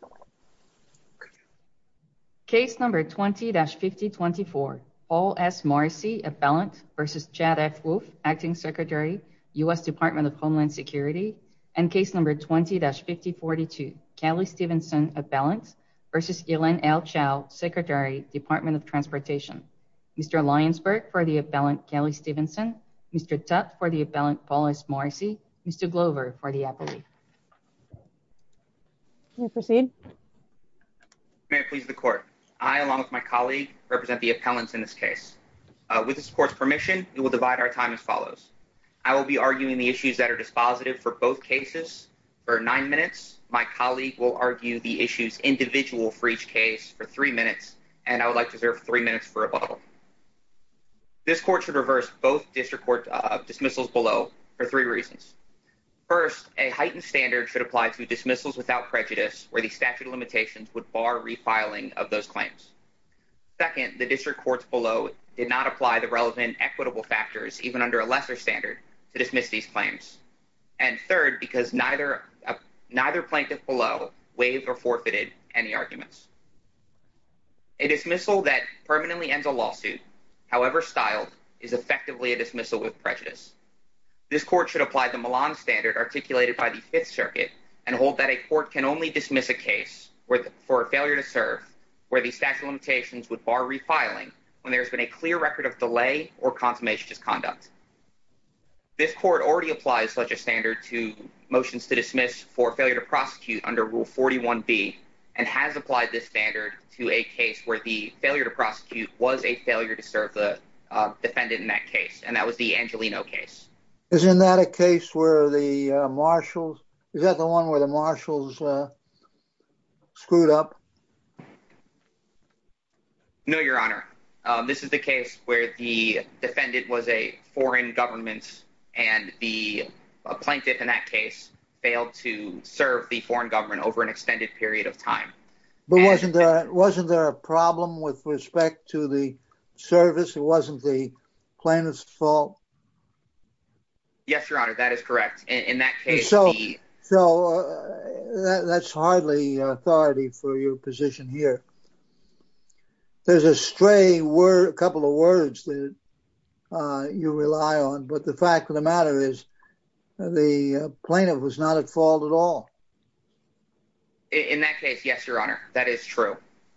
v. Chad F. Wolf, Acting Secretary, U.S. Department of Homeland Security, and case number 20-5042, Kelly Stevenson, Appellant, v. Elaine L. Chow, Secretary, Department of Transportation. Mr. Lyons-Burke for the Appellant, Kelly Stevenson. Mr. Tutte for the Appellant, Paul S. Morrissey. Mr. Glover for the Appellant. May I proceed? May it please the Court. I, along with my colleague, represent the Appellants in this case. With this Court's permission, we will divide our time as follows. I will be arguing the issues that are dispositive for both cases for nine minutes. My colleague will argue the issues individual for each case for three minutes, and I would like to serve three minutes for a bottle. This Court should reverse both District Court dismissals below for three reasons. First, a heightened standard should apply to dismissals without prejudice, where the statute of limitations would bar refiling of those claims. Second, the District Courts below did not apply the relevant equitable factors, even under a lesser standard, to dismiss these claims. And third, because neither plaintiff below waived or forfeited any arguments. A dismissal that permanently ends a lawsuit, however styled, is effectively a dismissal with prejudice. This Court should apply the Milan Standard articulated by the Fifth Circuit and hold that a Court can only dismiss a case for a failure to serve where the statute of limitations would bar refiling when there's been a clear record of delay or consummationist conduct. This Court already applies such a standard to motions to dismiss for failure to prosecute under Rule 41B and has applied this standard to a case where the failure to prosecute was a failure to serve the defendant and that was the Angelino case. Is that the one where the marshals screwed up? No, Your Honor. This is the case where the defendant was a foreign government and the plaintiff in that case failed to serve the foreign government over an extended period of time. But wasn't there a problem with respect to the service? It wasn't the plaintiff's fault? Yes, Your Honor, that is correct. In that case... So that's hardly authority for your position here. There's a stray couple of words that you rely on, but the fact of the matter is the plaintiff was not at fault at all. In that case, yes, Your Honor, that is true.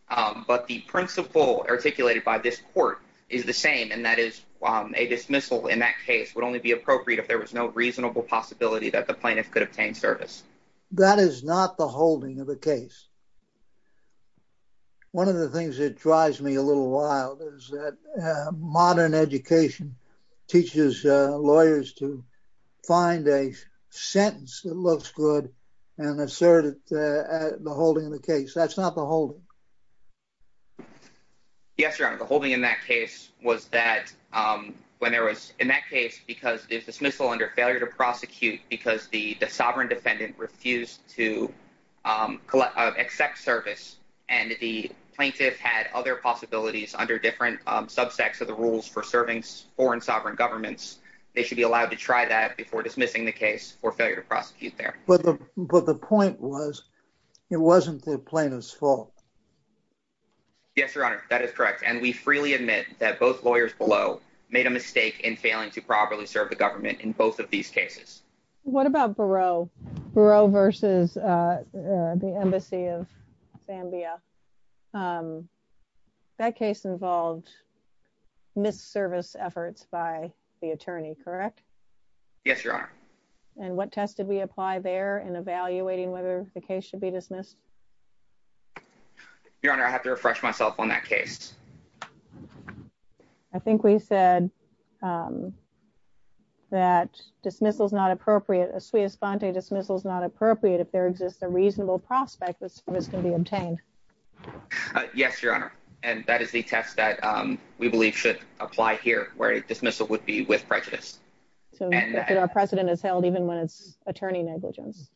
But the principle articulated by this Court is the same and that is a dismissal in that case would only be appropriate if there was no reasonable possibility that the plaintiff could obtain service. That is not the holding of the case. One of the things that drives me a little while is that education teaches lawyers to find a sentence that looks good and assert it at the holding of the case. That's not the holding. Yes, Your Honor. The holding in that case was that when there was... In that case, because the dismissal under failure to prosecute because the sovereign defendant refused to accept service and the plaintiff had other possibilities under different subsects of the rules for serving foreign sovereign governments, they should be allowed to try that before dismissing the case for failure to prosecute there. But the point was it wasn't the plaintiff's fault. Yes, Your Honor, that is correct. And we freely admit that both lawyers below made a mistake in failing to properly serve the government in both of these cases. What about Barreau versus the Embassy of Zambia? That case involved miss service efforts by the attorney, correct? Yes, Your Honor. And what test did we apply there in evaluating whether the case should be dismissed? Your Honor, I have to refresh myself on that case. I think we said that dismissal is not appropriate. A sui espante dismissal is not appropriate if there exists a reasonable prospect that service can be obtained. Yes, Your Honor. And that is the test that we believe should apply here, where a dismissal would be with prejudice. So our precedent is held even when it's attorney negligence.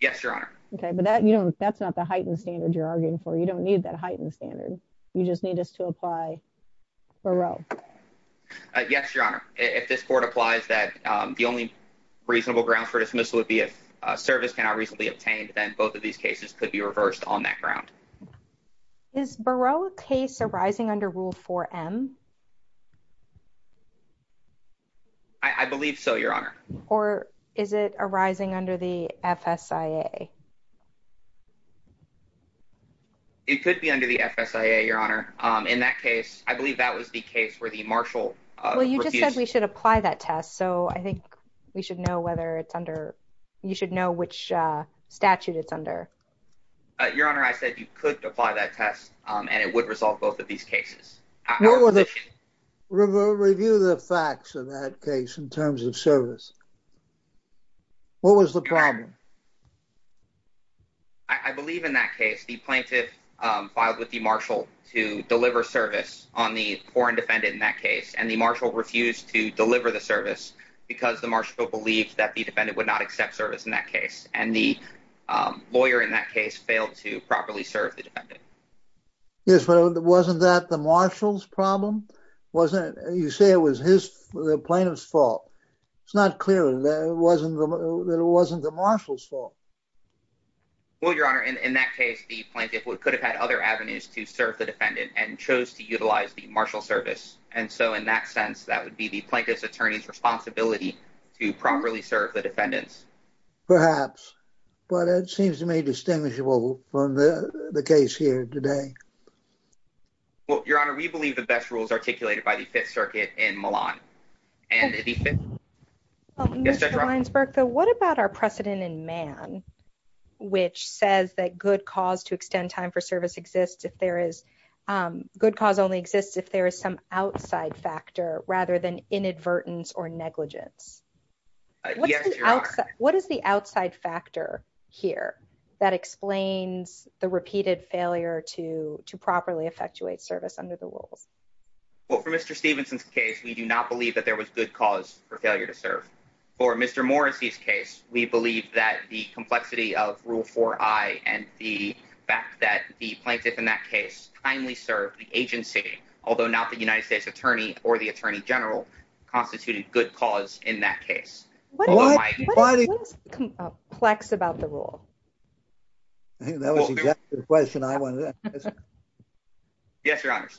Yes, Your Honor. Okay, but that you know, that's not the heightened standard you're arguing for. You don't need that heightened standard. You just need us to apply Barreau. Yes, Your Honor. If this court applies that the only reasonable grounds for dismissal would be if service cannot reasonably obtained, then both of these cases could be reversed on that ground. Is Barreau a case arising under Rule 4M? I believe so, Your Honor. Or is it arising under the FSIA? It could be under the FSIA, Your Honor. In that case, I believe that was the case where the marshal. Well, you just said we should apply that test. So I think we should know whether it's under, you should know which statute it's under. Your Honor, I said you could apply that test and it would resolve both of these cases. What were the review the facts of that case in terms of service? What was the problem? I believe in that case, the plaintiff filed with the marshal to deliver service on the foreign defendant in that case, and the marshal refused to deliver the service because the marshal believed that the defendant would not accept service in that case. And the lawyer in that case failed to properly serve the defendant. Yes, but wasn't that the marshal's problem? Wasn't it? You say it was his plaintiff's fault. It's not clear that it wasn't the marshal's fault. Well, Your Honor, in that case, the plaintiff could have had other avenues to serve the defendant and chose to utilize the marshal service. And so in that sense, that would be the plaintiff's attorney's responsibility to properly serve the defendants. Perhaps, but it seems to me distinguishable from the case here today. Well, Your Honor, we believe the best rules articulated by the Fifth Circuit in Milan. Mr. Linesburg, though, what about our precedent in Mann, which says that good cause to extend time for service exists if there is good cause only exists if there is some outside factor rather than inadvertence or negligence? What is the outside factor here that explains the repeated failure to properly effectuate service under the rules? Well, for Mr. Stevenson's case, we do not believe that there was good cause for failure to serve. For Mr. Morrissey's case, we believe that the complexity of Rule 4i and the fact that the plaintiff in that case kindly served the agency, although not the United States attorney or the attorney general, constituted good cause in that case. What is complex about the rule? That was exactly the question I wanted to ask. Yes, Your Honor.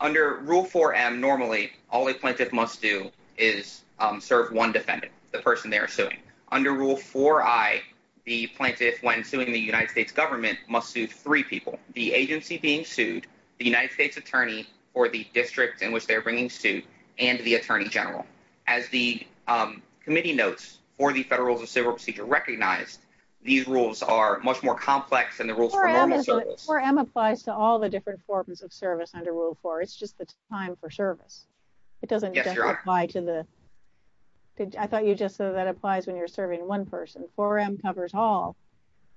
Under Rule 4m, normally, all a plaintiff must do is serve one defendant, the person they are suing. Under Rule 4i, the plaintiff, when suing the United States government, must sue three people, the agency being sued, the United States attorney or the district in which they're bringing suit, and the attorney general. As the committee notes, for the Federal Rules of Civil Procedure recognized, these rules are much more complex than the rules for normal service. 4m applies to all the different forms of service under Rule 4. It's just the time for service. I thought you just said that applies when you're serving one person. 4m covers all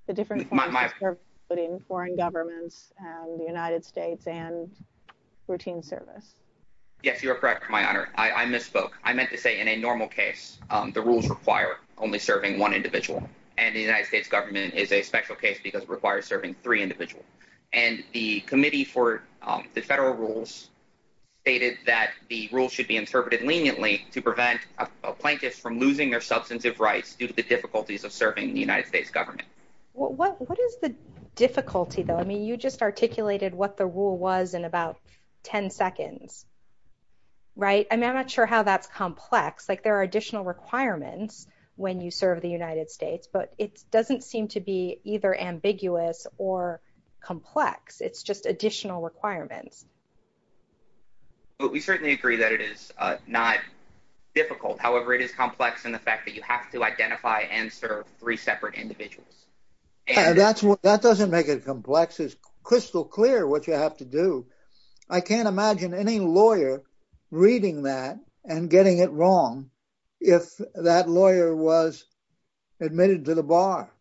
the different forms of service, including foreign governments and the United States and routine service. Yes, you are correct, Your Honor. I misspoke. I meant to say in a normal case, the rules require only serving one individual, and the United States government is a special case because it requires serving three individuals. The committee for the Federal Rules stated that the rules should be interpreted leniently to prevent a plaintiff from losing their substantive rights due to the difficulties of serving the United States government. What is the difficulty, though? I mean, you just articulated what the rule was in about 10 seconds, right? I'm not sure how that's complex. There are additional requirements when you serve the United States, but it doesn't seem to be either ambiguous or complex. It's just additional requirements. But we certainly agree that it is not difficult. However, it is complex in the fact that you have to identify and serve three separate individuals. And that's what that doesn't make it complex. It's crystal clear what you have to do. I can't imagine any lawyer reading that and getting it wrong if that lawyer was admitted to the bar.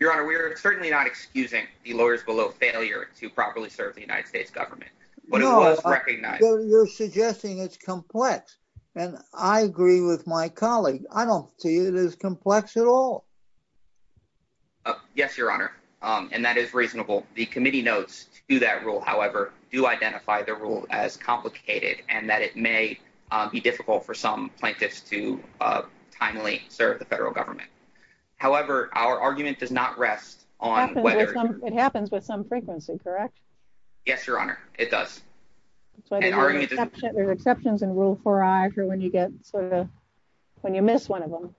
Your Honor, we are certainly not excusing the lawyers below failure to properly serve the United States government, but it was recognized. You're suggesting it's complex, and I agree with my colleague. I don't see it as complex at all. Yes, Your Honor, and that is reasonable. The committee notes to that rule, however, do identify the rule as complicated and that it may be difficult for some plaintiffs to timely serve the federal government. However, our argument does not rest on whether it happens with some frequency, correct? Yes, Your Honor, it does. There's exceptions in rule for when you get sort of when you miss one of them.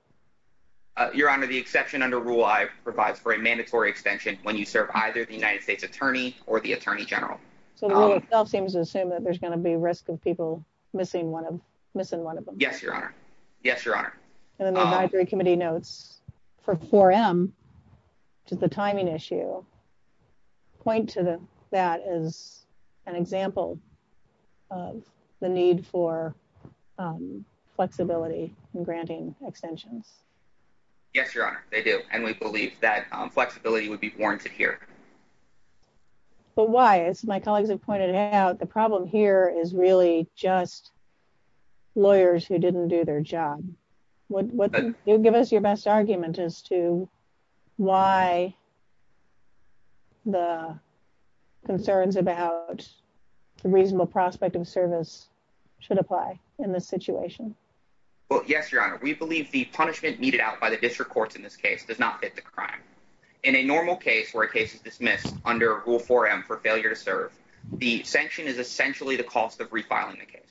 Your Honor, the exception under rule provides for a mandatory extension when you serve either the United States attorney or the attorney general. So it seems to assume that there's going to be risk of people missing one of missing one of them. Yes, Your Honor. Yes, Your Honor. And then the advisory committee notes for 4M, which is the timing issue, point to that as an example of the need for flexibility in granting extensions. Yes, Your Honor, they do. And we believe that flexibility would be warranted here. But why? As my colleagues have pointed out, the problem here is really just lawyers who didn't do their job. Would you give us your best argument as to why the concerns about the reasonable prospect of service should apply in this situation? Well, yes, Your Honor, we believe the punishment needed out by the district courts in this case does not fit the crime. In a normal case where a case is dismissed under rule 4M for failure to serve, the sanction is essentially the cost of refiling the case.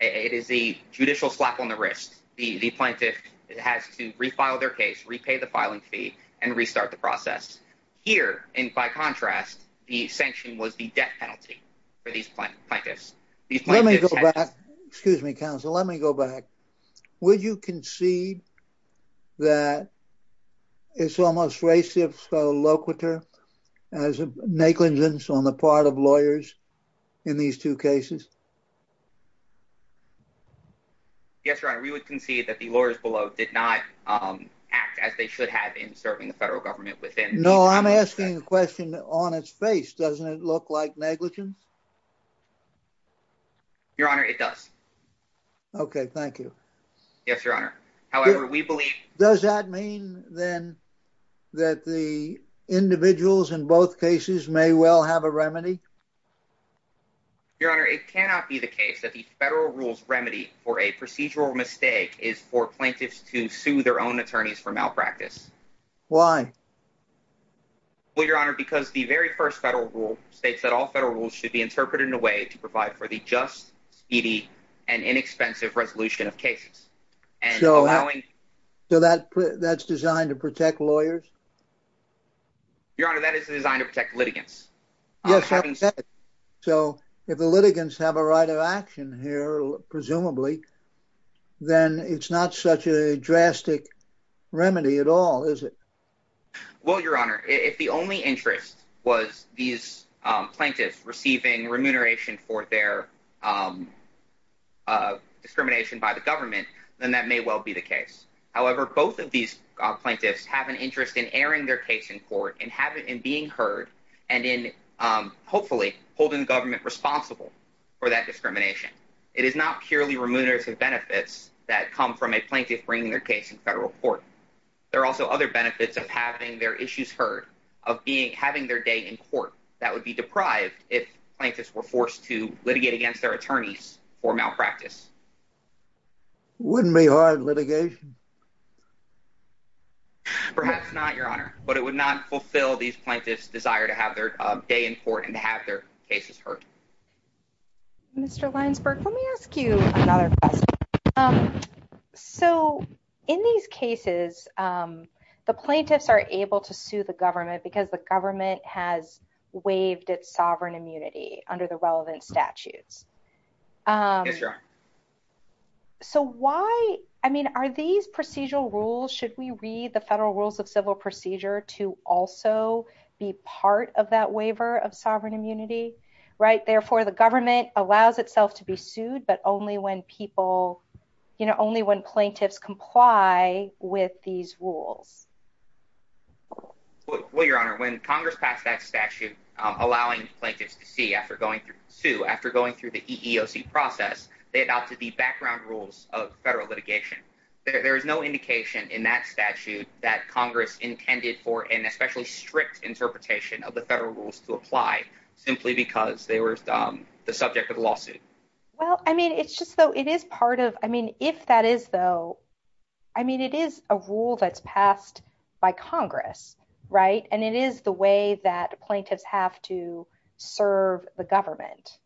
It is the judicial slap on the wrist. The plaintiff has to refile their case, repay the filing fee and restart the process here. And by contrast, the sanction was the death penalty for these plaintiffs. Excuse me, counsel. Let me go back. Would you concede that it's almost racist locator as negligence on the part of lawyers in these two cases? Yes, Your Honor, we would concede that the lawyers below did not act as they should have in serving the federal government within. No, I'm asking a question on its face. Doesn't it look like negligence? Your Honor, it does. OK, thank you. Yes, Your Honor. However, we believe. Does that mean then that the individuals in both cases may well have a remedy? Your Honor, it cannot be the case that the federal rules remedy for a procedural mistake is for plaintiffs to sue their own attorneys for malpractice. Why? Well, Your Honor, because the very first federal rule states that all federal rules should be interpreted in a way to provide for the just, speedy and inexpensive resolution of cases. So, so that that's designed to protect lawyers? Your Honor, that is designed to protect litigants. Yes, so if the litigants have a right of action here, presumably, then it's not such a drastic remedy at all, is it? Well, Your Honor, if the only interest was these plaintiffs receiving remuneration for their discrimination by the government, then that may well be the case. However, both of these plaintiffs have an interest in airing their case in court and have it in being heard and in, hopefully, holding the government responsible for that discrimination. It is not purely remunerative benefits that come from a plaintiff bringing their case in federal court. There are also other benefits of having their issues heard, of having their day in court that would be deprived if plaintiffs were forced to litigate against their attorneys for malpractice. Wouldn't be hard litigation? Perhaps not, Your Honor, but it would not fulfill these plaintiffs' desire to have their day in court and to have their cases heard. Mr. Linesburg, let me ask you another question. So, in these cases, the plaintiffs are able to sue the government because the government has waived its sovereign immunity under the relevant statutes. Yes, Your Honor. So, why, I mean, are these procedural rules, should we read the Federal Rules of Civil Procedure to also be part of that waiver of sovereign immunity, right? Therefore, the government allows itself to be sued, but only when people, you know, only when plaintiffs comply with these rules. Well, Your Honor, when Congress passed that statute allowing plaintiffs to see after going through the EEOC process, they adopted the background rules of federal litigation. There is no indication in that statute that Congress intended for an especially strict interpretation of the Federal Rules to apply simply because they were the subject of the lawsuit. Well, I mean, it's just, though, it is part of, I mean, if that is, though, I mean, it is a rule that's passed by Congress, right? And it is the way that plaintiffs have to serve the government.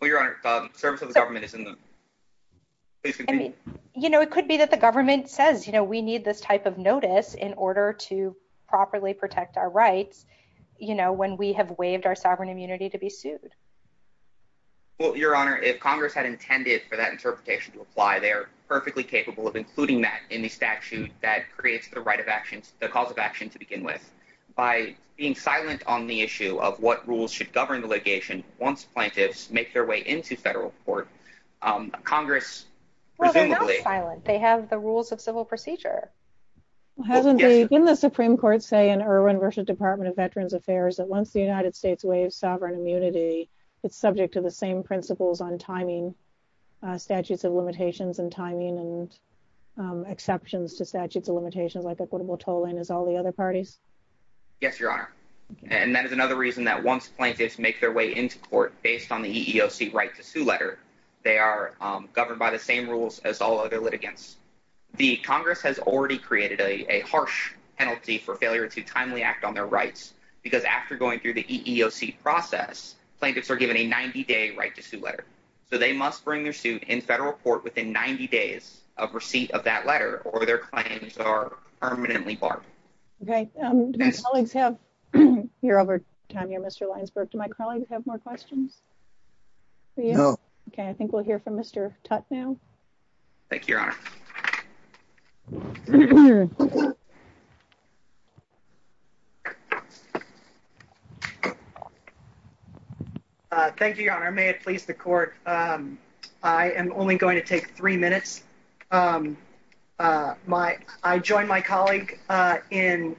Well, Your Honor, the service of the government is in the, please continue. You know, it could be that the government says, you know, we need this type of notice in order to properly protect our rights, you know, when we have waived our sovereign immunity to be sued. Well, Your Honor, if Congress had intended for that interpretation to apply, they are perfectly capable of including that in the statute that creates the right of actions, the cause of action to begin with. By being silent on the issue of what rules should govern the litigation once plaintiffs make their way into federal court, Congress, presumably- Well, they're not silent. They have the rules of civil procedure. Hasn't the, didn't the Supreme Court say in Irwin versus Department of Veterans Affairs that once the United States waives sovereign immunity, it's subject to the same principles on timing, statutes of limitations and timing and exceptions to statutes of limitations like equitable tolling as all the other parties? Yes, Your Honor, and that is another reason that once plaintiffs make their way into court based on the EEOC right to sue letter, they are governed by the same rules as all other litigants. The Congress has already created a harsh penalty for failure to timely act on their rights because after going through the EEOC process, plaintiffs are given a 90-day right to sue letter. So they must bring their suit in federal court within 90 days of receipt of that letter or their claims are permanently barred. Okay, do my colleagues have, over time here, Mr. Lyons-Burke, do my colleagues have more questions for you? No. Okay, I think we'll hear from Mr. Tutte now. Thank you, Your Honor. Thank you, Your Honor. May it please the court. I am only going to take three minutes. I join my colleague in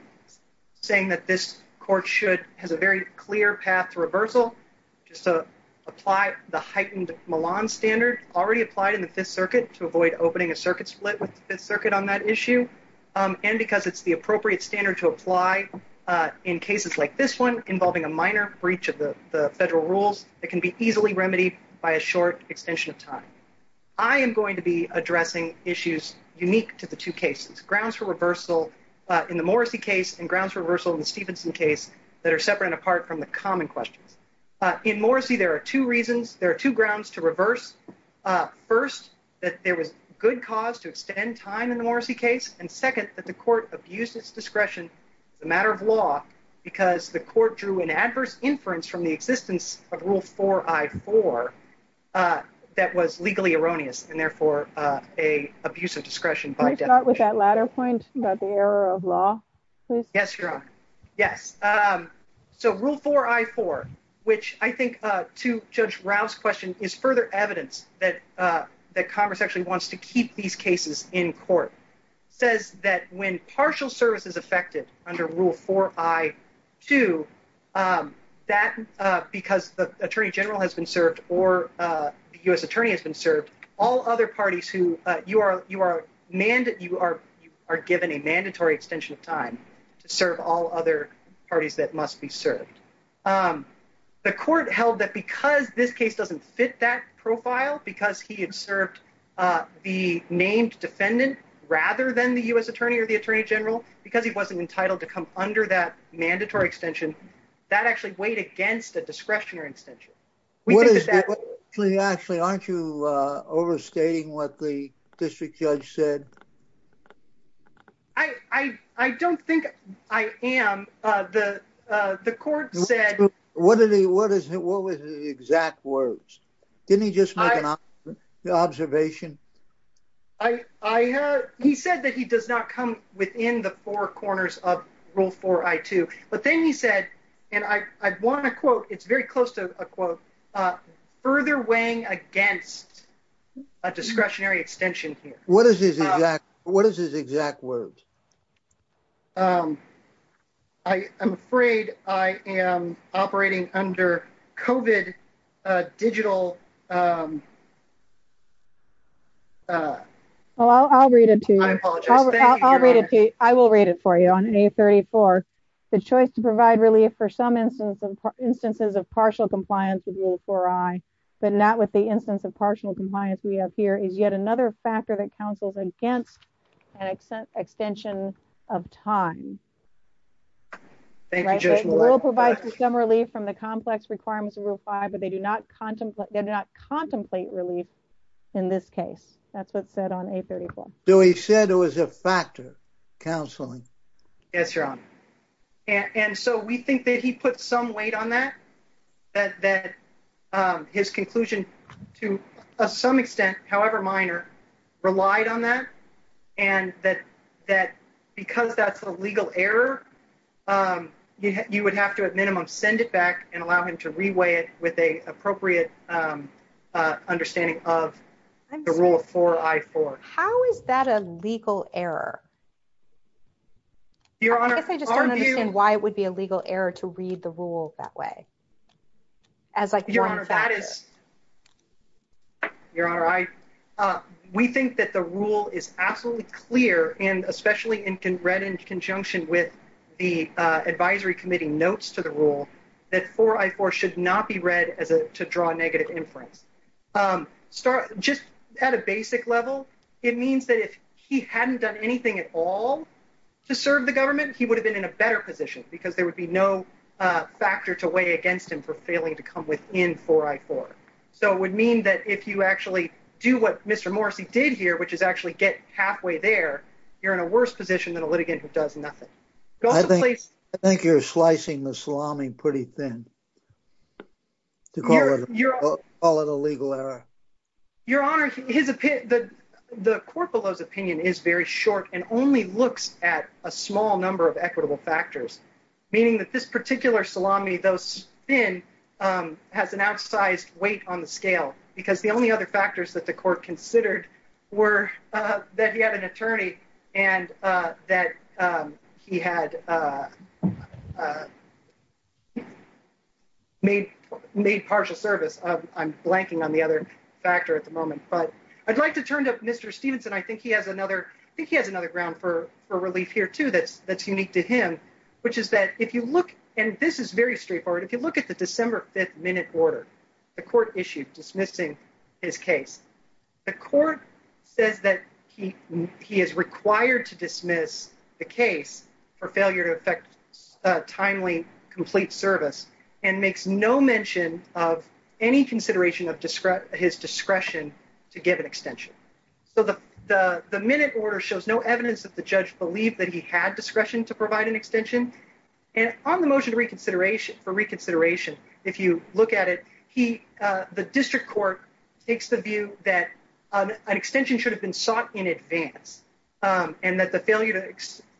saying that this court should, has a very clear path to reversal just to apply the heightened Milan standard already applied in the Fifth Circuit to avoid opening a circuit split with the Fifth Circuit on that issue. And because it's the appropriate standard to apply in cases like this one involving a minor breach of the federal rules, it can be easily remedied by a short extension of time. I am going to be addressing issues unique to the two cases, grounds for reversal in the Morrissey case and grounds for reversal in the Stephenson case that are separate and apart from the common questions. In Morrissey, there are two reasons. There are two grounds to reverse. First, that there was good cause to extend time in the Morrissey case. And second, that the court abused its discretion as a matter of law because the court drew an adverse inference from the existence of Rule 4I4 that was legally erroneous and therefore a abuse of discretion by definition. Can I start with that latter point about the error of law, please? Yes, Your Honor. Yes. So Rule 4I4, which I think to Judge Rao's question is further evidence that Congress actually wants to keep these cases in court, says that when partial service is affected under Rule 4I2, that because the attorney general has been served or the U.S. attorney has been served, all other parties who you are given a mandatory extension of time to serve all other parties that must be served. The court held that because this case doesn't fit that profile, because he had served the named defendant rather than the U.S. to come under that mandatory extension. That actually weighed against a discretionary extension. Actually, aren't you overstating what the district judge said? I don't think I am. The court said... What was the exact words? Didn't he just make an observation? He said that he does not come within the four corners of Rule 4I2. But then he said, and I want to quote, it's very close to a quote, further weighing against a discretionary extension here. What is his exact words? I'm afraid I am operating under COVID digital... I'll read it to you. I apologize. I'll read it to you. I will read it for you on A34. The choice to provide relief for some instances of partial compliance with Rule 4I, but not with the instance of partial compliance we have here, is yet another factor that counsels against an extension of time. The rule provides some relief from the complex requirements of Rule 5, but they do not contemplate relief in this case. That's what's said on A34. So he said it was a factor, counseling. Yes, Your Honor. And so we think that he put some weight on that, that his conclusion to some extent, however minor, relied on that. And that because that's a legal error, you would have to, at minimum, send it back and allow him to reweigh it with an appropriate understanding of the Rule 4I4. How is that a legal error? Your Honor, are you... I guess I just don't understand why it would be a legal error to read the rule that way. As like... Your Honor, that is... Your Honor, we think that the rule is absolutely clear, and especially read in conjunction with the advisory committee notes to the rule, that 4I4 should not be read to draw negative inference. Just at a basic level, it means that if he hadn't done anything at all to serve the government, he would have been in a better position, because there would be no factor to weigh against him for failing to come within 4I4. So it would mean that if you actually do what Mr. Morrissey did here, which is actually get halfway there, you're in a worse position than a litigant who does nothing. I think you're slicing the salami pretty thin, to call it a legal error. Your Honor, the court below's opinion is very short and only looks at a small number of has an outsized weight on the scale, because the only other factors that the court considered were that he had an attorney and that he had made partial service. I'm blanking on the other factor at the moment. But I'd like to turn to Mr. Stephenson. I think he has another ground for relief here, too, that's unique to him, which is that if and this is very straightforward. If you look at the December 5th minute order the court issued dismissing his case, the court says that he is required to dismiss the case for failure to effect timely, complete service and makes no mention of any consideration of his discretion to give an extension. So the minute order shows no evidence that the judge believed that he had discretion to provide an extension. And on the motion for reconsideration, if you look at it, the district court takes the view that an extension should have been sought in advance and that the failure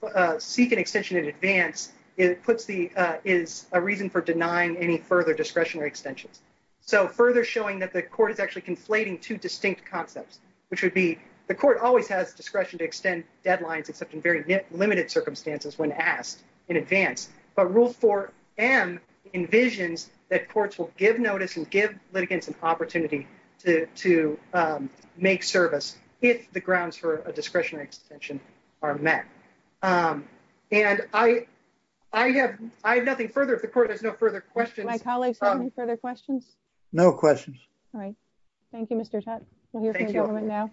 to seek an extension in advance is a reason for denying any further discretionary extensions. So further showing that the court is actually conflating two distinct concepts, which would be the court always has discretion to extend deadlines, except in very limited circumstances when asked in advance. But Rule 4M envisions that courts will give notice and give litigants an opportunity to make service if the grounds for a discretionary extension are met. And I have nothing further. If the court has no further questions. My colleagues have any further questions? No questions. All right. Thank you, Mr. Tutte. We'll hear from the government now.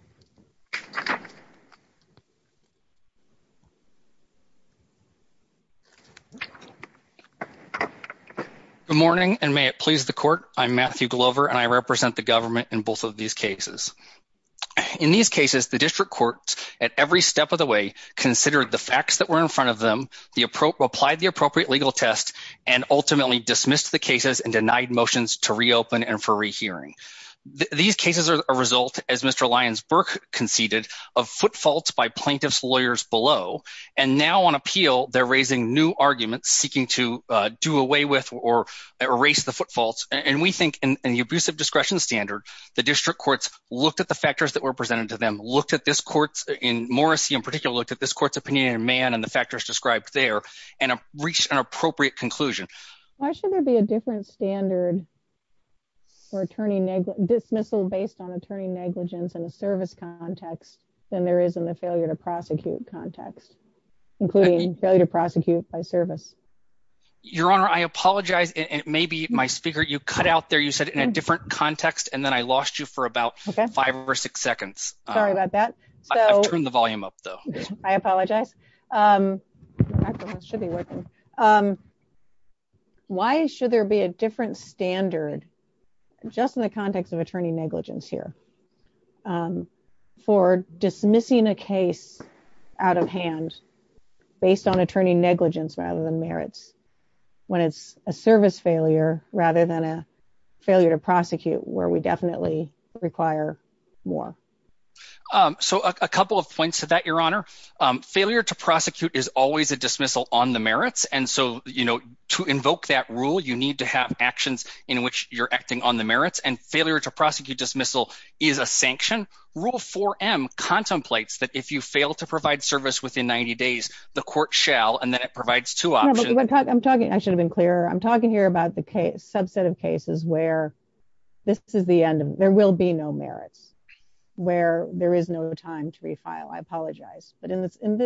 Good morning, and may it please the court. I'm Matthew Glover, and I represent the government in both of these cases. In these cases, the district courts at every step of the way considered the facts that were in front of them, the appropriate, applied the appropriate legal test, and ultimately dismissed the cases and denied motions to reopen and for rehearing. These cases are a result, as Mr. Lyons-Burke conceded, of foot faults by plaintiff's lawyers below. And now on appeal, they're raising new arguments seeking to do away with or erase the foot faults. And we think in the abusive discretion standard, the district courts looked at the factors that were presented to them, looked at this court's, in Morrissey in particular, looked at this court's opinion in Mann and the factors described there, and reached an appropriate conclusion. Why should there be a different standard for dismissal based on attorney negligence in there is in the failure to prosecute context, including failure to prosecute by service? Your Honor, I apologize, and maybe my speaker, you cut out there, you said in a different context, and then I lost you for about five or six seconds. Sorry about that. I've turned the volume up, though. I apologize. Why should there be a different standard, just in the context of attorney negligence here, for dismissing a case out of hand based on attorney negligence rather than merits when it's a service failure rather than a failure to prosecute, where we definitely require more? So a couple of points to that, Your Honor. Failure to prosecute is always a dismissal on the merits. And so to invoke that rule, you need to have actions in which you're acting on the merits. And failure to prosecute dismissal is a sanction. Rule 4M contemplates that if you fail to provide service within 90 days, the court shall, and then it provides two options. I'm talking. I should have been clearer. I'm talking here about the subset of cases where this is the end. There will be no merits where there is no time to refile. I apologize. And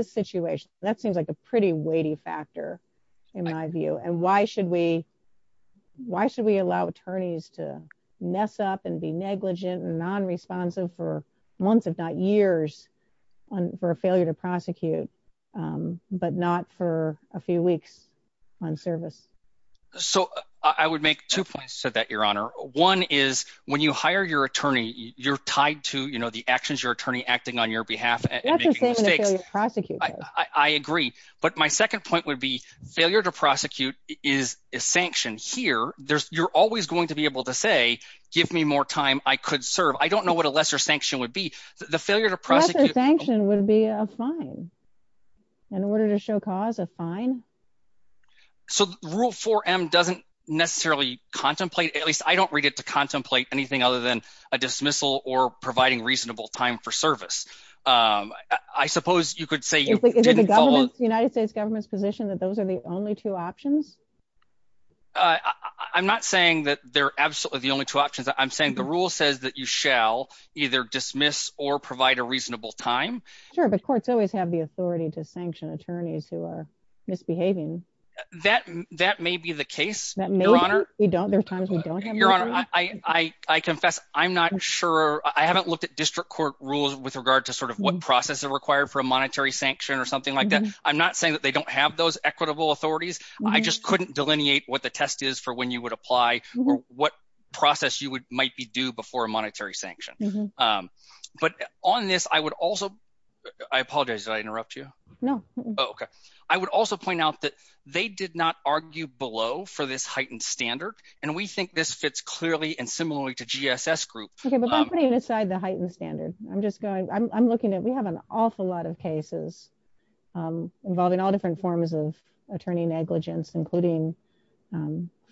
why should we allow attorneys to mess up and be negligent and nonresponsive for months, if not years, for a failure to prosecute, but not for a few weeks on service? So I would make two points to that, Your Honor. One is when you hire your attorney, you're tied to the actions your attorney acting on your behalf and making mistakes. I agree. But my second point would be failure to prosecute is a sanction. Here, you're always going to be able to say, give me more time. I could serve. I don't know what a lesser sanction would be. The failure to prosecute. Lesser sanction would be a fine. In order to show cause, a fine. So Rule 4M doesn't necessarily contemplate, at least I don't read it to contemplate anything other than a dismissal or providing reasonable time for service. I suppose you could say the United States government's position that those are the only two options. I'm not saying that they're absolutely the only two options. I'm saying the rule says that you shall either dismiss or provide a reasonable time. Sure. But courts always have the authority to sanction attorneys who are misbehaving. That may be the case, Your Honor. We don't. There are times we don't. Your Honor, I confess. I'm not sure. I haven't looked at district court rules with regard to sort of what process is required for a monetary sanction or something like that. I'm not saying that they don't have those equitable authorities. I just couldn't delineate what the test is for when you would apply or what process you might be due before a monetary sanction. But on this, I would also, I apologize. Did I interrupt you? No. Okay. I would also point out that they did not argue below for this heightened standard. And we think this fits clearly and similarly to GSS group. Okay. But I'm putting aside the heightened standard. I'm just going, I'm looking at, we have an awful lot of cases involving all different forms of attorney negligence, including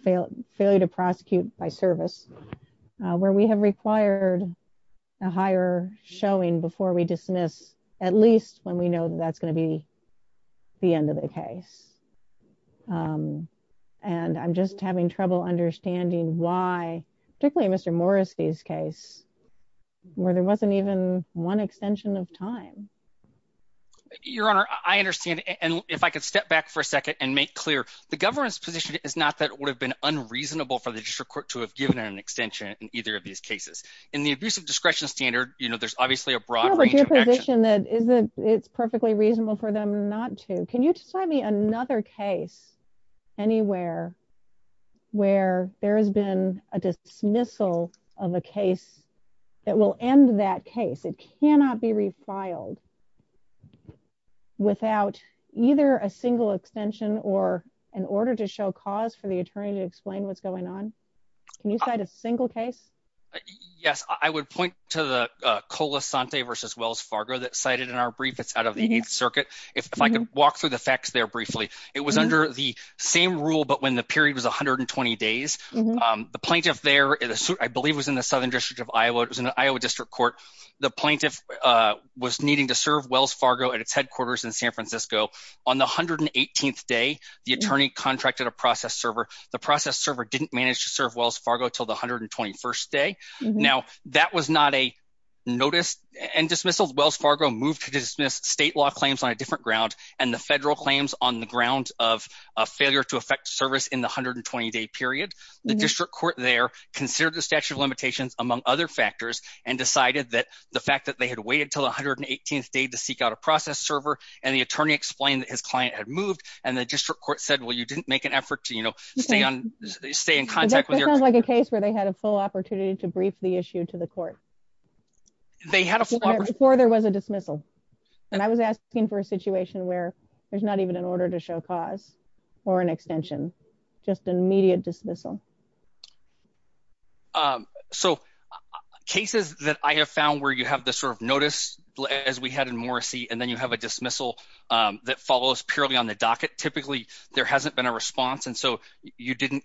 failure to prosecute by service, where we have required a higher showing before we dismiss, at least when we know that that's going to be the end of the case. And I'm just having trouble understanding why, particularly in Mr. Morrissey's case, where there wasn't even one extension of time. Your Honor, I understand. And if I could step back for a second and make clear, the government's position is not that it would have been unreasonable for the district court to have given an extension in either of these cases. In the abuse of discretion standard, you know, there's obviously a broad range of action. Yeah, but your position is that it's perfectly reasonable for them not to. Can you just find me another case anywhere where there has been a dismissal of a case that will end that case? It cannot be refiled without either a single extension or an order to show cause for the attorney to explain what's going on. Can you cite a single case? Yes, I would point to the Colasante versus Wells Fargo that cited in our brief. It's out of the Eighth Circuit. If I could walk through the facts there briefly, it was under the same rule. But when the period was 120 days, the plaintiff there, I believe, was in the Southern District of Iowa. It was in the Iowa District Court. The plaintiff was needing to serve Wells Fargo at its headquarters in San Francisco. On the 118th day, the attorney contracted a process server. The process server didn't manage to serve Wells Fargo till the 121st day. Now, that was not a notice and dismissal. Wells Fargo moved to dismiss state law claims on a different ground and the federal claims on the ground of a failure to effect service in the 120-day period. The district court there considered the statute of limitations, among other factors, and decided that the fact that they had waited till the 118th day to seek out a process server, and the attorney explained that his client had moved, and the district court said, well, you didn't make an effort to stay in contact. That sounds like a case where they had a full opportunity to brief the issue to the court. They had a full opportunity. Before there was a dismissal, and I was asking for a situation where there's not even an order to show cause or an extension, just an immediate dismissal. So, cases that I have found where you have this sort of notice, as we had in Morrissey, and then you have a dismissal that follows purely on the docket, typically, there hasn't been a response, and so you didn't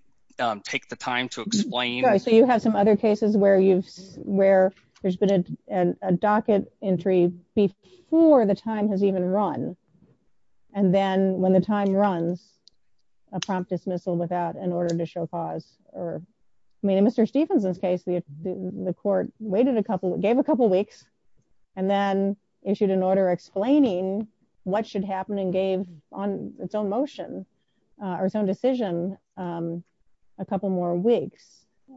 take the time to explain. So, you have some other cases where there's been a docket entry before the time has even run, and then when the time runs, a prompt dismissal without an order to show cause. I mean, in Mr. Stephenson's case, the court waited a couple, gave a couple weeks, and then issued an order explaining what should happen and gave on its own motion, or its own decision, a couple more weeks,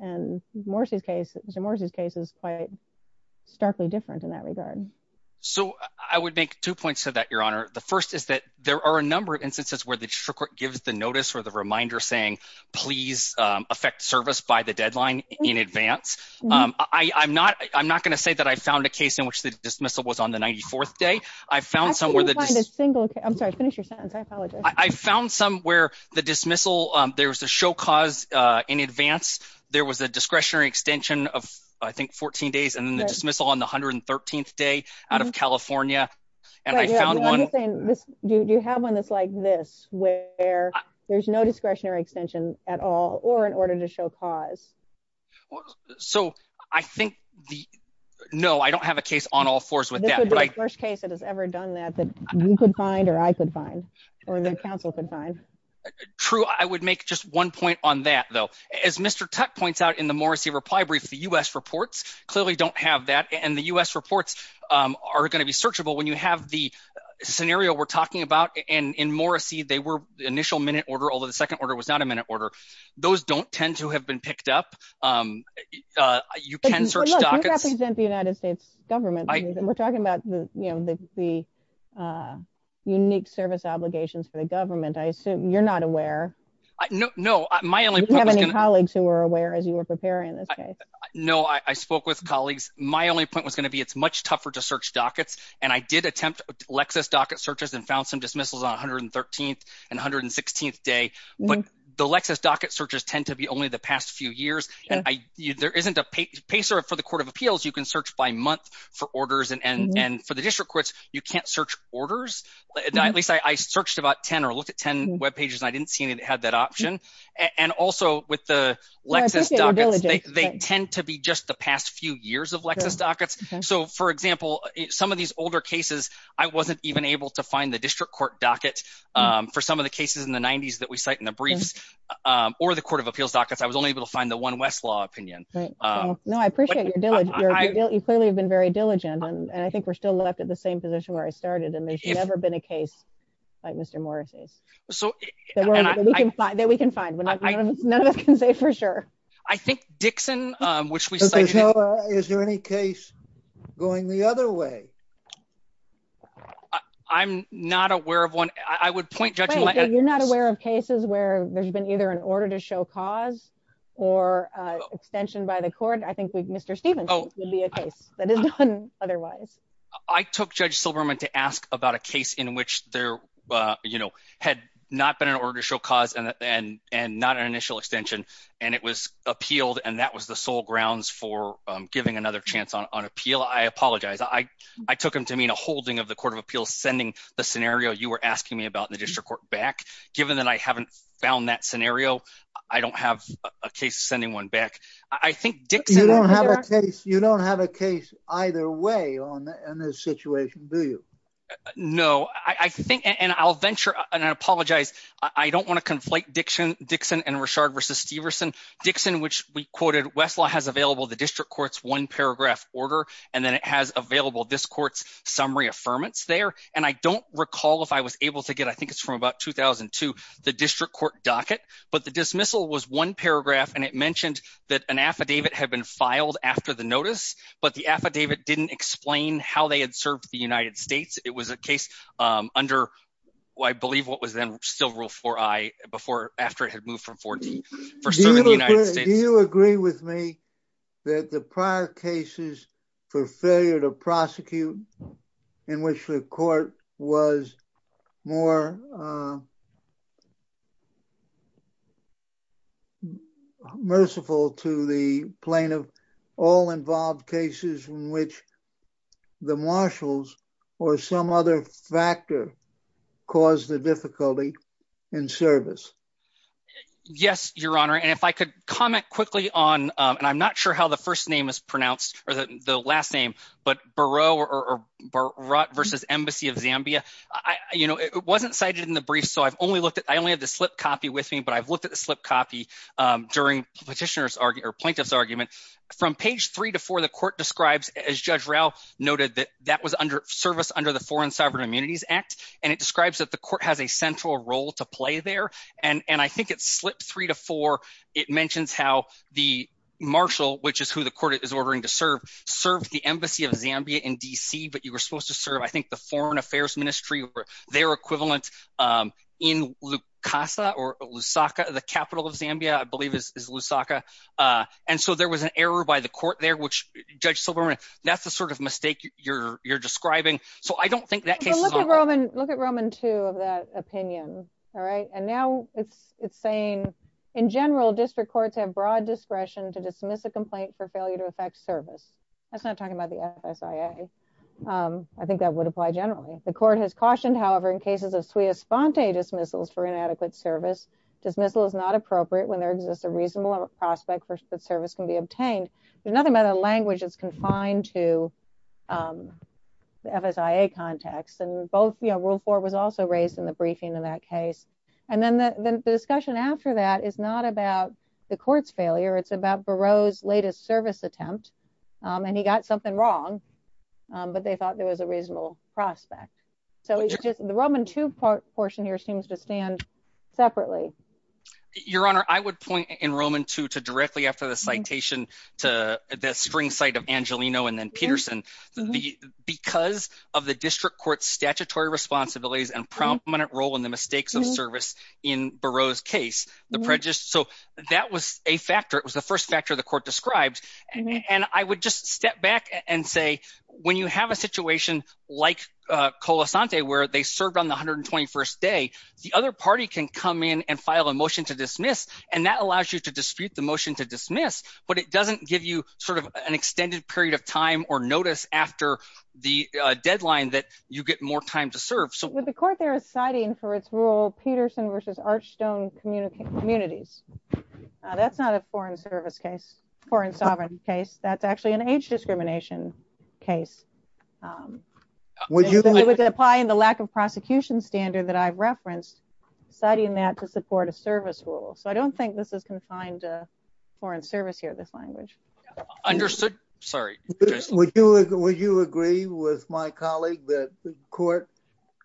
and Mr. Morrissey's case is quite starkly different in that regard. So, I would make two points to that, Your Honor. The first is that there are a number of instances where the district court gives the notice or the reminder saying, please affect service by the deadline in advance. I'm not going to say that I found a case in which the dismissal was on the 94th day. I've found somewhere that- I can't even find a single case. I'm sorry, finish your sentence. I apologize. I found some where the dismissal, there was a show cause in advance. There was a discretionary extension of, I think, 14 days, and then the dismissal on the 113th day out of California, and I found one- Yeah, I'm just saying, do you have one that's like this, where there's no discretionary extension at all, or an order to show cause? So, I think the- no, I don't have a case on all fours with that. This would be the first case that has ever done that, that you could find or I could counsel could find. True. I would make just one point on that, though. As Mr. Tutte points out in the Morrissey reply brief, the U.S. reports clearly don't have that, and the U.S. reports are going to be searchable. When you have the scenario we're talking about, and in Morrissey, they were initial minute order, although the second order was not a minute order. Those don't tend to have been picked up. You can search dockets- But look, you represent the United States government. We're talking about the, you know, the unique service obligations for the government. I assume you're not aware. No, my only- Do you have any colleagues who are aware, as you were preparing this case? No, I spoke with colleagues. My only point was going to be it's much tougher to search dockets, and I did attempt Lexis docket searches and found some dismissals on 113th and 116th day, but the Lexis docket searches tend to be only the past few years, and there isn't a pacer for the Court of Orders, and for the district courts, you can't search orders. At least I searched about 10 or looked at 10 webpages, and I didn't see any that had that option, and also with the Lexis dockets, they tend to be just the past few years of Lexis dockets, so for example, some of these older cases, I wasn't even able to find the district court docket for some of the cases in the 90s that we cite in the briefs, or the Court of Appeals dockets. I was only able to find the one Westlaw opinion. No, I appreciate your diligence. You clearly have been very diligent, and I think we're still left at the same position where I started, and there's never been a case like Mr. Morris's that we can find, but none of us can say for sure. I think Dixon, which we cited. Is there any case going the other way? I'm not aware of one. I would point judgment. You're not aware of cases where there's been either an order to show cause or extension by the court. I think Mr. Stevens would be a case that is done otherwise. I took Judge Silberman to ask about a case in which there had not been an order to show cause and not an initial extension, and it was appealed, and that was the sole grounds for giving another chance on appeal. I apologize. I took him to mean a holding of the Court of Appeals, sending the scenario you were asking me about in the district court back. Given that I haven't found that scenario, I don't have a case sending one back. I think Dixon. You don't have a case either way on this situation, do you? No, I think, and I'll venture, and I apologize. I don't want to conflate Dixon and Richard versus Steverson. Dixon, which we quoted, Westlaw has available the district court's one paragraph order, and then it has available this court's summary affirmance there, and I don't recall if I was able to get, I think it's from about 2002, the district court docket, but the dismissal was one paragraph, and it mentioned that an affidavit had been filed after the notice, but the affidavit didn't explain how they had served the United States. It was a case under, I believe, what was then still Rule 4I before, after it had moved from 14 for serving the United States. Do you agree with me that the prior cases for failure to prosecute in which the court was more merciful to the plaintiff, all involved cases in which the marshals or some other factor caused the difficulty in service? Yes, Your Honor, and if I could comment quickly on, and I'm not sure how the first name is You know, it wasn't cited in the brief, so I've only looked at, I only have the slip copy with me, but I've looked at the slip copy during petitioner's argument, or plaintiff's argument. From page three to four, the court describes, as Judge Rao noted, that that was under service under the Foreign Sovereign Immunities Act, and it describes that the court has a central role to play there, and I think it's slip three to four, it mentions how the marshal, which is who the court is ordering to serve, served the embassy of Zambia in D.C., but you were supposed to serve, I think, the Foreign Affairs Ministry, or their equivalent, in Lukasa, or Lusaka, the capital of Zambia, I believe is Lusaka, and so there was an error by the court there, which, Judge Silberman, that's the sort of mistake you're describing, so I don't think that case is on there. Look at Roman two of that opinion, all right, and now it's saying, in general, district courts have broad discretion to dismiss a complaint for failure to effect service. That's not talking about the FSIA. I think that would apply generally. The court has cautioned, however, in cases of sui esponte dismissals for inadequate service, dismissal is not appropriate when there exists a reasonable prospect that service can be obtained. There's nothing about a language that's confined to the FSIA context, and both, you know, rule four was also raised in the briefing in that case, and then the discussion after that is not about the court's failure. It's about Barreau's latest service attempt, and he got something wrong, but they thought there was a reasonable prospect, so it's just the Roman two portion here seems to stand separately. Your Honor, I would point in Roman two to directly after the citation to the string cite of Angelino and then Peterson. Because of the district court's statutory responsibilities and prominent role in the That was a factor. It was the first factor the court described, and I would just step back and say when you have a situation like Colasante, where they served on the 121st day, the other party can come in and file a motion to dismiss, and that allows you to dispute the motion to dismiss, but it doesn't give you sort of an extended period of time or notice after the deadline that you get more time to serve. The court there is citing for its rule Peterson versus Archstone communities. That's not a foreign service case or in sovereign case. That's actually an age discrimination case. Would you apply in the lack of prosecution standard that I've referenced citing that to support a service rule? So I don't think this is confined to foreign service here. This language. Understood. Sorry, would you would you agree with my colleague that the court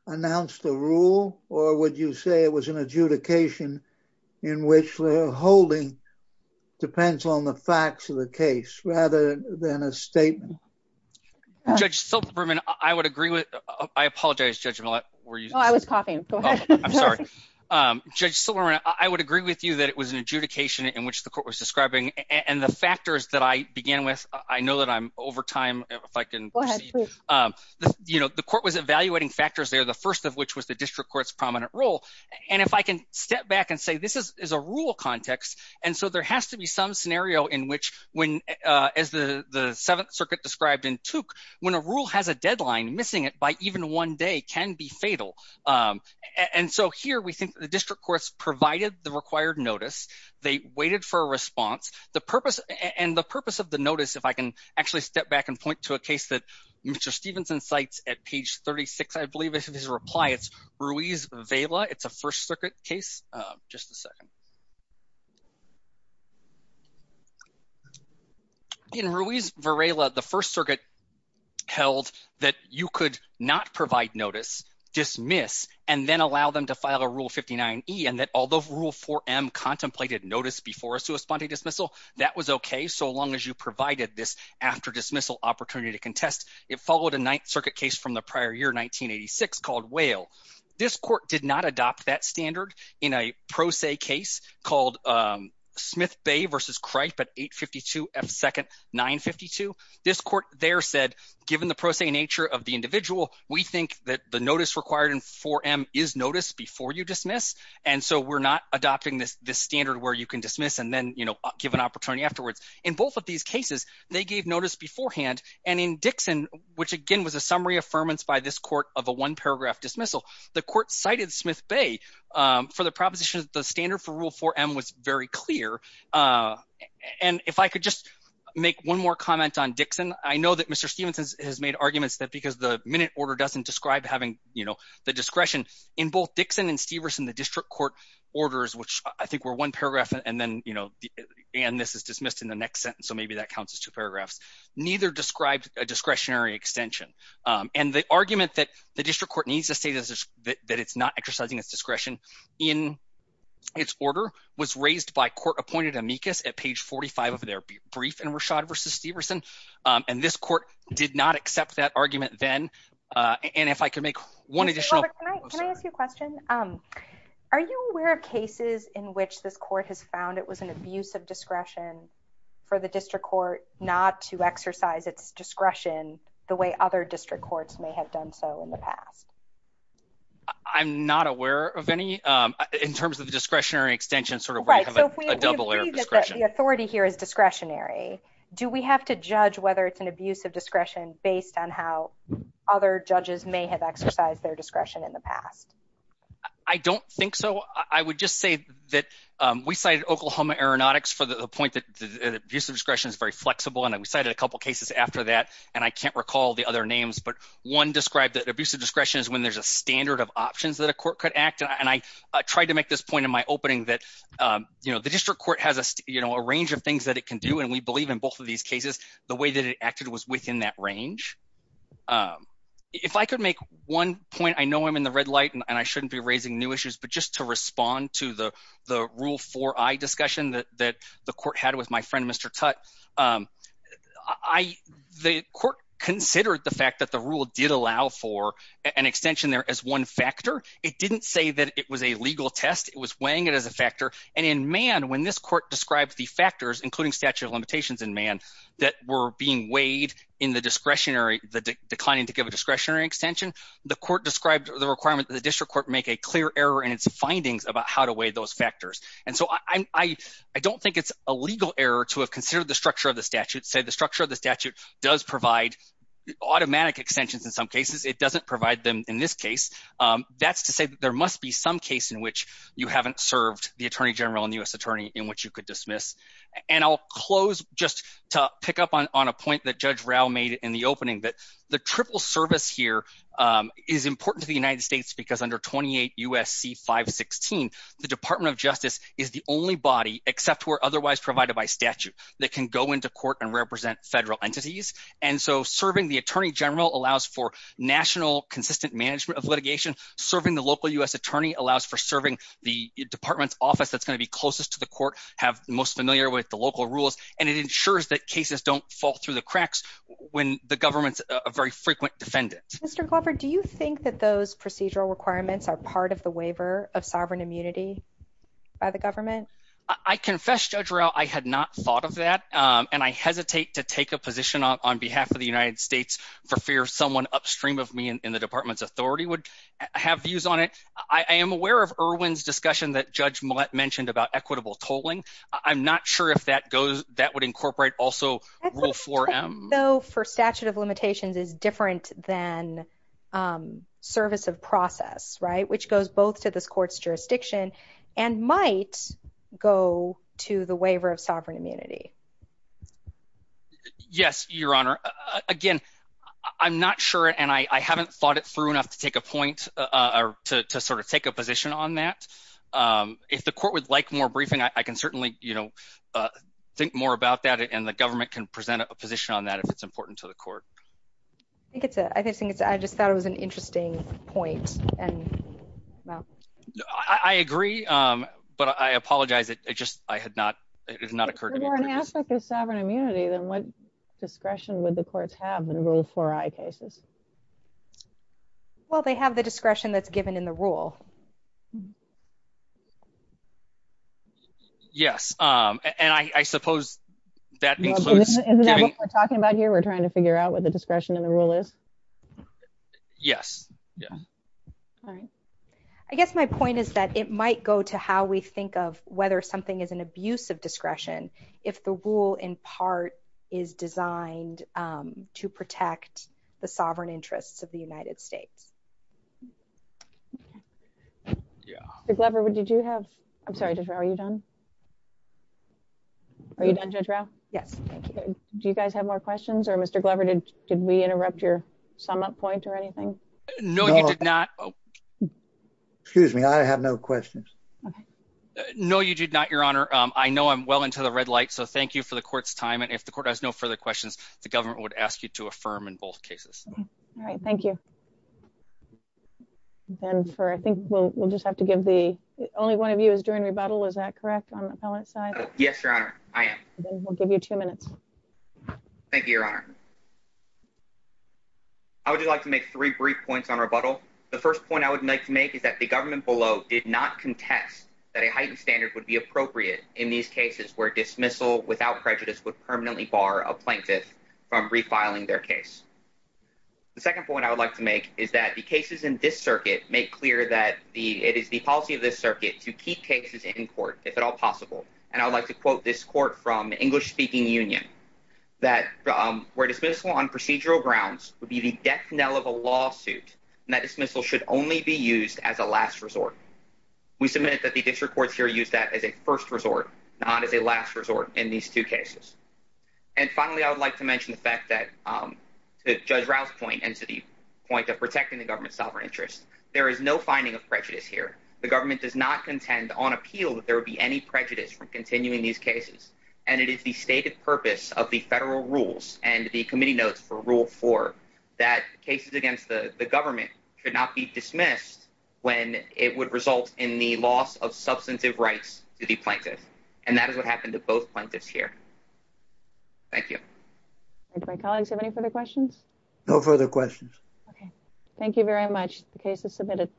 announced the rule, or would you say it was an adjudication in which the holding depends on the facts of the case rather than a statement. Judge Silberman, I would agree with. I apologize judgment. I was coughing. I'm sorry. Judge Silberman, I would agree with you that it was an adjudication in which the court and the factors that I began with. I know that I'm over time if I can. You know, the court was evaluating factors there, the first of which was the district court's prominent role. And if I can step back and say this is a rule context. And so there has to be some scenario in which when, as the Seventh Circuit described in took when a rule has a deadline missing it by even one day can be fatal. And so here we think the district courts provided the required notice. They waited for a response. The purpose and the purpose of the notice, if I can actually step back and point to a case that Mr. Stevenson cites at page 36, I believe it's his reply. It's Ruiz Vela. It's a First Circuit case. Just a second. In Ruiz Vela, the First Circuit held that you could not provide notice, dismiss, and then allow them to file a Rule 59E. And that although Rule 4M contemplated notice before a sua sponte dismissal, that was okay. So long as you provided this after dismissal opportunity to contest, it followed a Ninth Circuit case from the prior year, 1986, called Whale. This court did not adopt that standard in a pro se case called Smith Bay v. Cripe at 852 F. 2nd, 952. This court there said, given the pro se nature of the individual, we think that the notice required in 4M is notice before you dismiss. And so we're not adopting this standard where you can dismiss and then give an opportunity afterwards. In both of these cases, they gave notice beforehand. And in Dixon, which again was a summary affirmance by this court of a one-paragraph dismissal, the court cited Smith Bay for the proposition that the standard for Rule 4M was very clear. And if I could just make one more comment on Dixon. I know that Mr. having, you know, the discretion in both Dixon and Steverson, the district court orders, which I think were one paragraph. And then, you know, and this is dismissed in the next sentence. So maybe that counts as two paragraphs. Neither described a discretionary extension. And the argument that the district court needs to say that it's not exercising its discretion in its order was raised by court appointed amicus at page 45 of their brief and Rashad versus Steverson. And this court did not accept that argument then. And if I could make one additional. Robert, can I ask you a question? Are you aware of cases in which this court has found it was an abuse of discretion for the district court not to exercise its discretion the way other district courts may have done so in the past? I'm not aware of any in terms of the discretionary extension. Sort of right. So if we believe that the authority here is discretionary, do we have to judge whether it's an abuse of discretion based on how other judges may have exercised their discretion in the past? I don't think so. I would just say that we cited Oklahoma Aeronautics for the point that the abuse of discretion is very flexible. And we cited a couple of cases after that. And I can't recall the other names, but one described that abuse of discretion is when there's a standard of options that a court could act. And I tried to make this point in my opening that, you know, the district court has, you know, a range of things that it can do. And we believe in both of these cases, the way that it acted was within that range. If I could make one point, I know I'm in the red light and I shouldn't be raising new issues. But just to respond to the rule for eye discussion that the court had with my friend, Mr. Tutte, the court considered the fact that the rule did allow for an extension there as one factor. It didn't say that it was a legal test. It was weighing it as a factor. And in Mann, when this court described the factors, including statute of limitations in Mann, that were being weighed in the discretionary, the declining to give a discretionary extension, the court described the requirement that the district court make a clear error in its findings about how to weigh those factors. And so I don't think it's a legal error to have considered the structure of the statute, say the structure of the statute does provide automatic extensions in some cases. It doesn't provide them in this case. That's to say that there must be some case in which you haven't served the attorney general and U.S. attorney in which you could dismiss. And I'll close just to pick up on a point that Judge Rao made in the opening that the triple service here is important to the United States because under 28 U.S.C. 516, the Department of Justice is the only body except for otherwise provided by statute that can go into court and represent federal entities. And so serving the attorney general allows for national consistent management of litigation. Serving the local U.S. attorney allows for serving the department's office that's going to be closest to the court, have the most familiar with the local rules, and it ensures that cases don't fall through the cracks when the government's a very frequent defendant. Mr. Glover, do you think that those procedural requirements are part of the waiver of sovereign immunity by the government? I confess, Judge Rao, I had not thought of that. And I hesitate to take a position on behalf of the United States for fear someone upstream of me in the department's authority would have views on it. I am aware of Irwin's discussion that Judge Millett mentioned about equitable tolling. I'm not sure if that goes that would incorporate also rule 4M. Though for statute of limitations is different than service of process, right, which goes both to this court's jurisdiction and might go to the waiver of sovereign immunity. Yes, Your Honor. Again, I'm not sure, and I haven't thought it through enough to take a point or to sort of take a position on that. If the court would like more briefing, I can certainly, you know, think more about that and the government can present a position on that if it's important to the court. I think it's a I just thought it was an interesting point. And I agree, but I apologize. It just I had not it has not occurred. More an aspect of sovereign immunity than what discretion would the courts have in rule 4I cases? Well, they have the discretion that's given in the rule. Yes, and I suppose that includes what we're talking about here. We're trying to figure out what the discretion in the rule is. Yes, yeah. All right. I guess my point is that it might go to how we think of whether something is an abuse of discretion if the rule, in part, is designed to protect the sovereign interests of the United States. Yeah, the clever would. Did you have? I'm sorry, are you done? Are you done? Yes, thank you. Do you guys have more questions or Mr Glover? Did we interrupt your sum up point or anything? No, you did not. Excuse me. I have no questions. No, you did not. Your Honor. I know I'm well into the red light. So thank you for the court's time. And if the court has no further questions, the government would ask you to affirm in both cases. All right. Thank you. And for I think we'll just have to give the only one of you is during rebuttal. Is that correct on the side? Yes, Your Honor. I am. We'll give you two minutes. Thank you, Your Honor. I would like to make three brief points on rebuttal. The first point I would like to make is that the government below did not contest that a standard would be appropriate in these cases where dismissal without prejudice would permanently bar a plaintiff from refiling their case. The second point I would like to make is that the cases in this circuit make clear that the it is the policy of this circuit to keep cases in court, if at all possible. And I would like to quote this court from English speaking union that were dismissal on procedural grounds would be the death knell of a lawsuit. And that dismissal should only be used as a last resort. We submit that the district courts here use that as a first resort, not as a last resort in these two cases. And finally, I would like to mention the fact that Judge Rouse point and to the point of protecting the government's sovereign interest. There is no finding of prejudice here. The government does not contend on appeal that there would be any prejudice from continuing these cases. And it is the stated purpose of the federal rules and the committee notes for rule four that cases against the government should not be dismissed when it would result in the loss of substantive rights to the plaintiff. And that is what happened to both plaintiffs here. Thank you. My colleagues have any further questions? No further questions. OK, thank you very much. The case is submitted.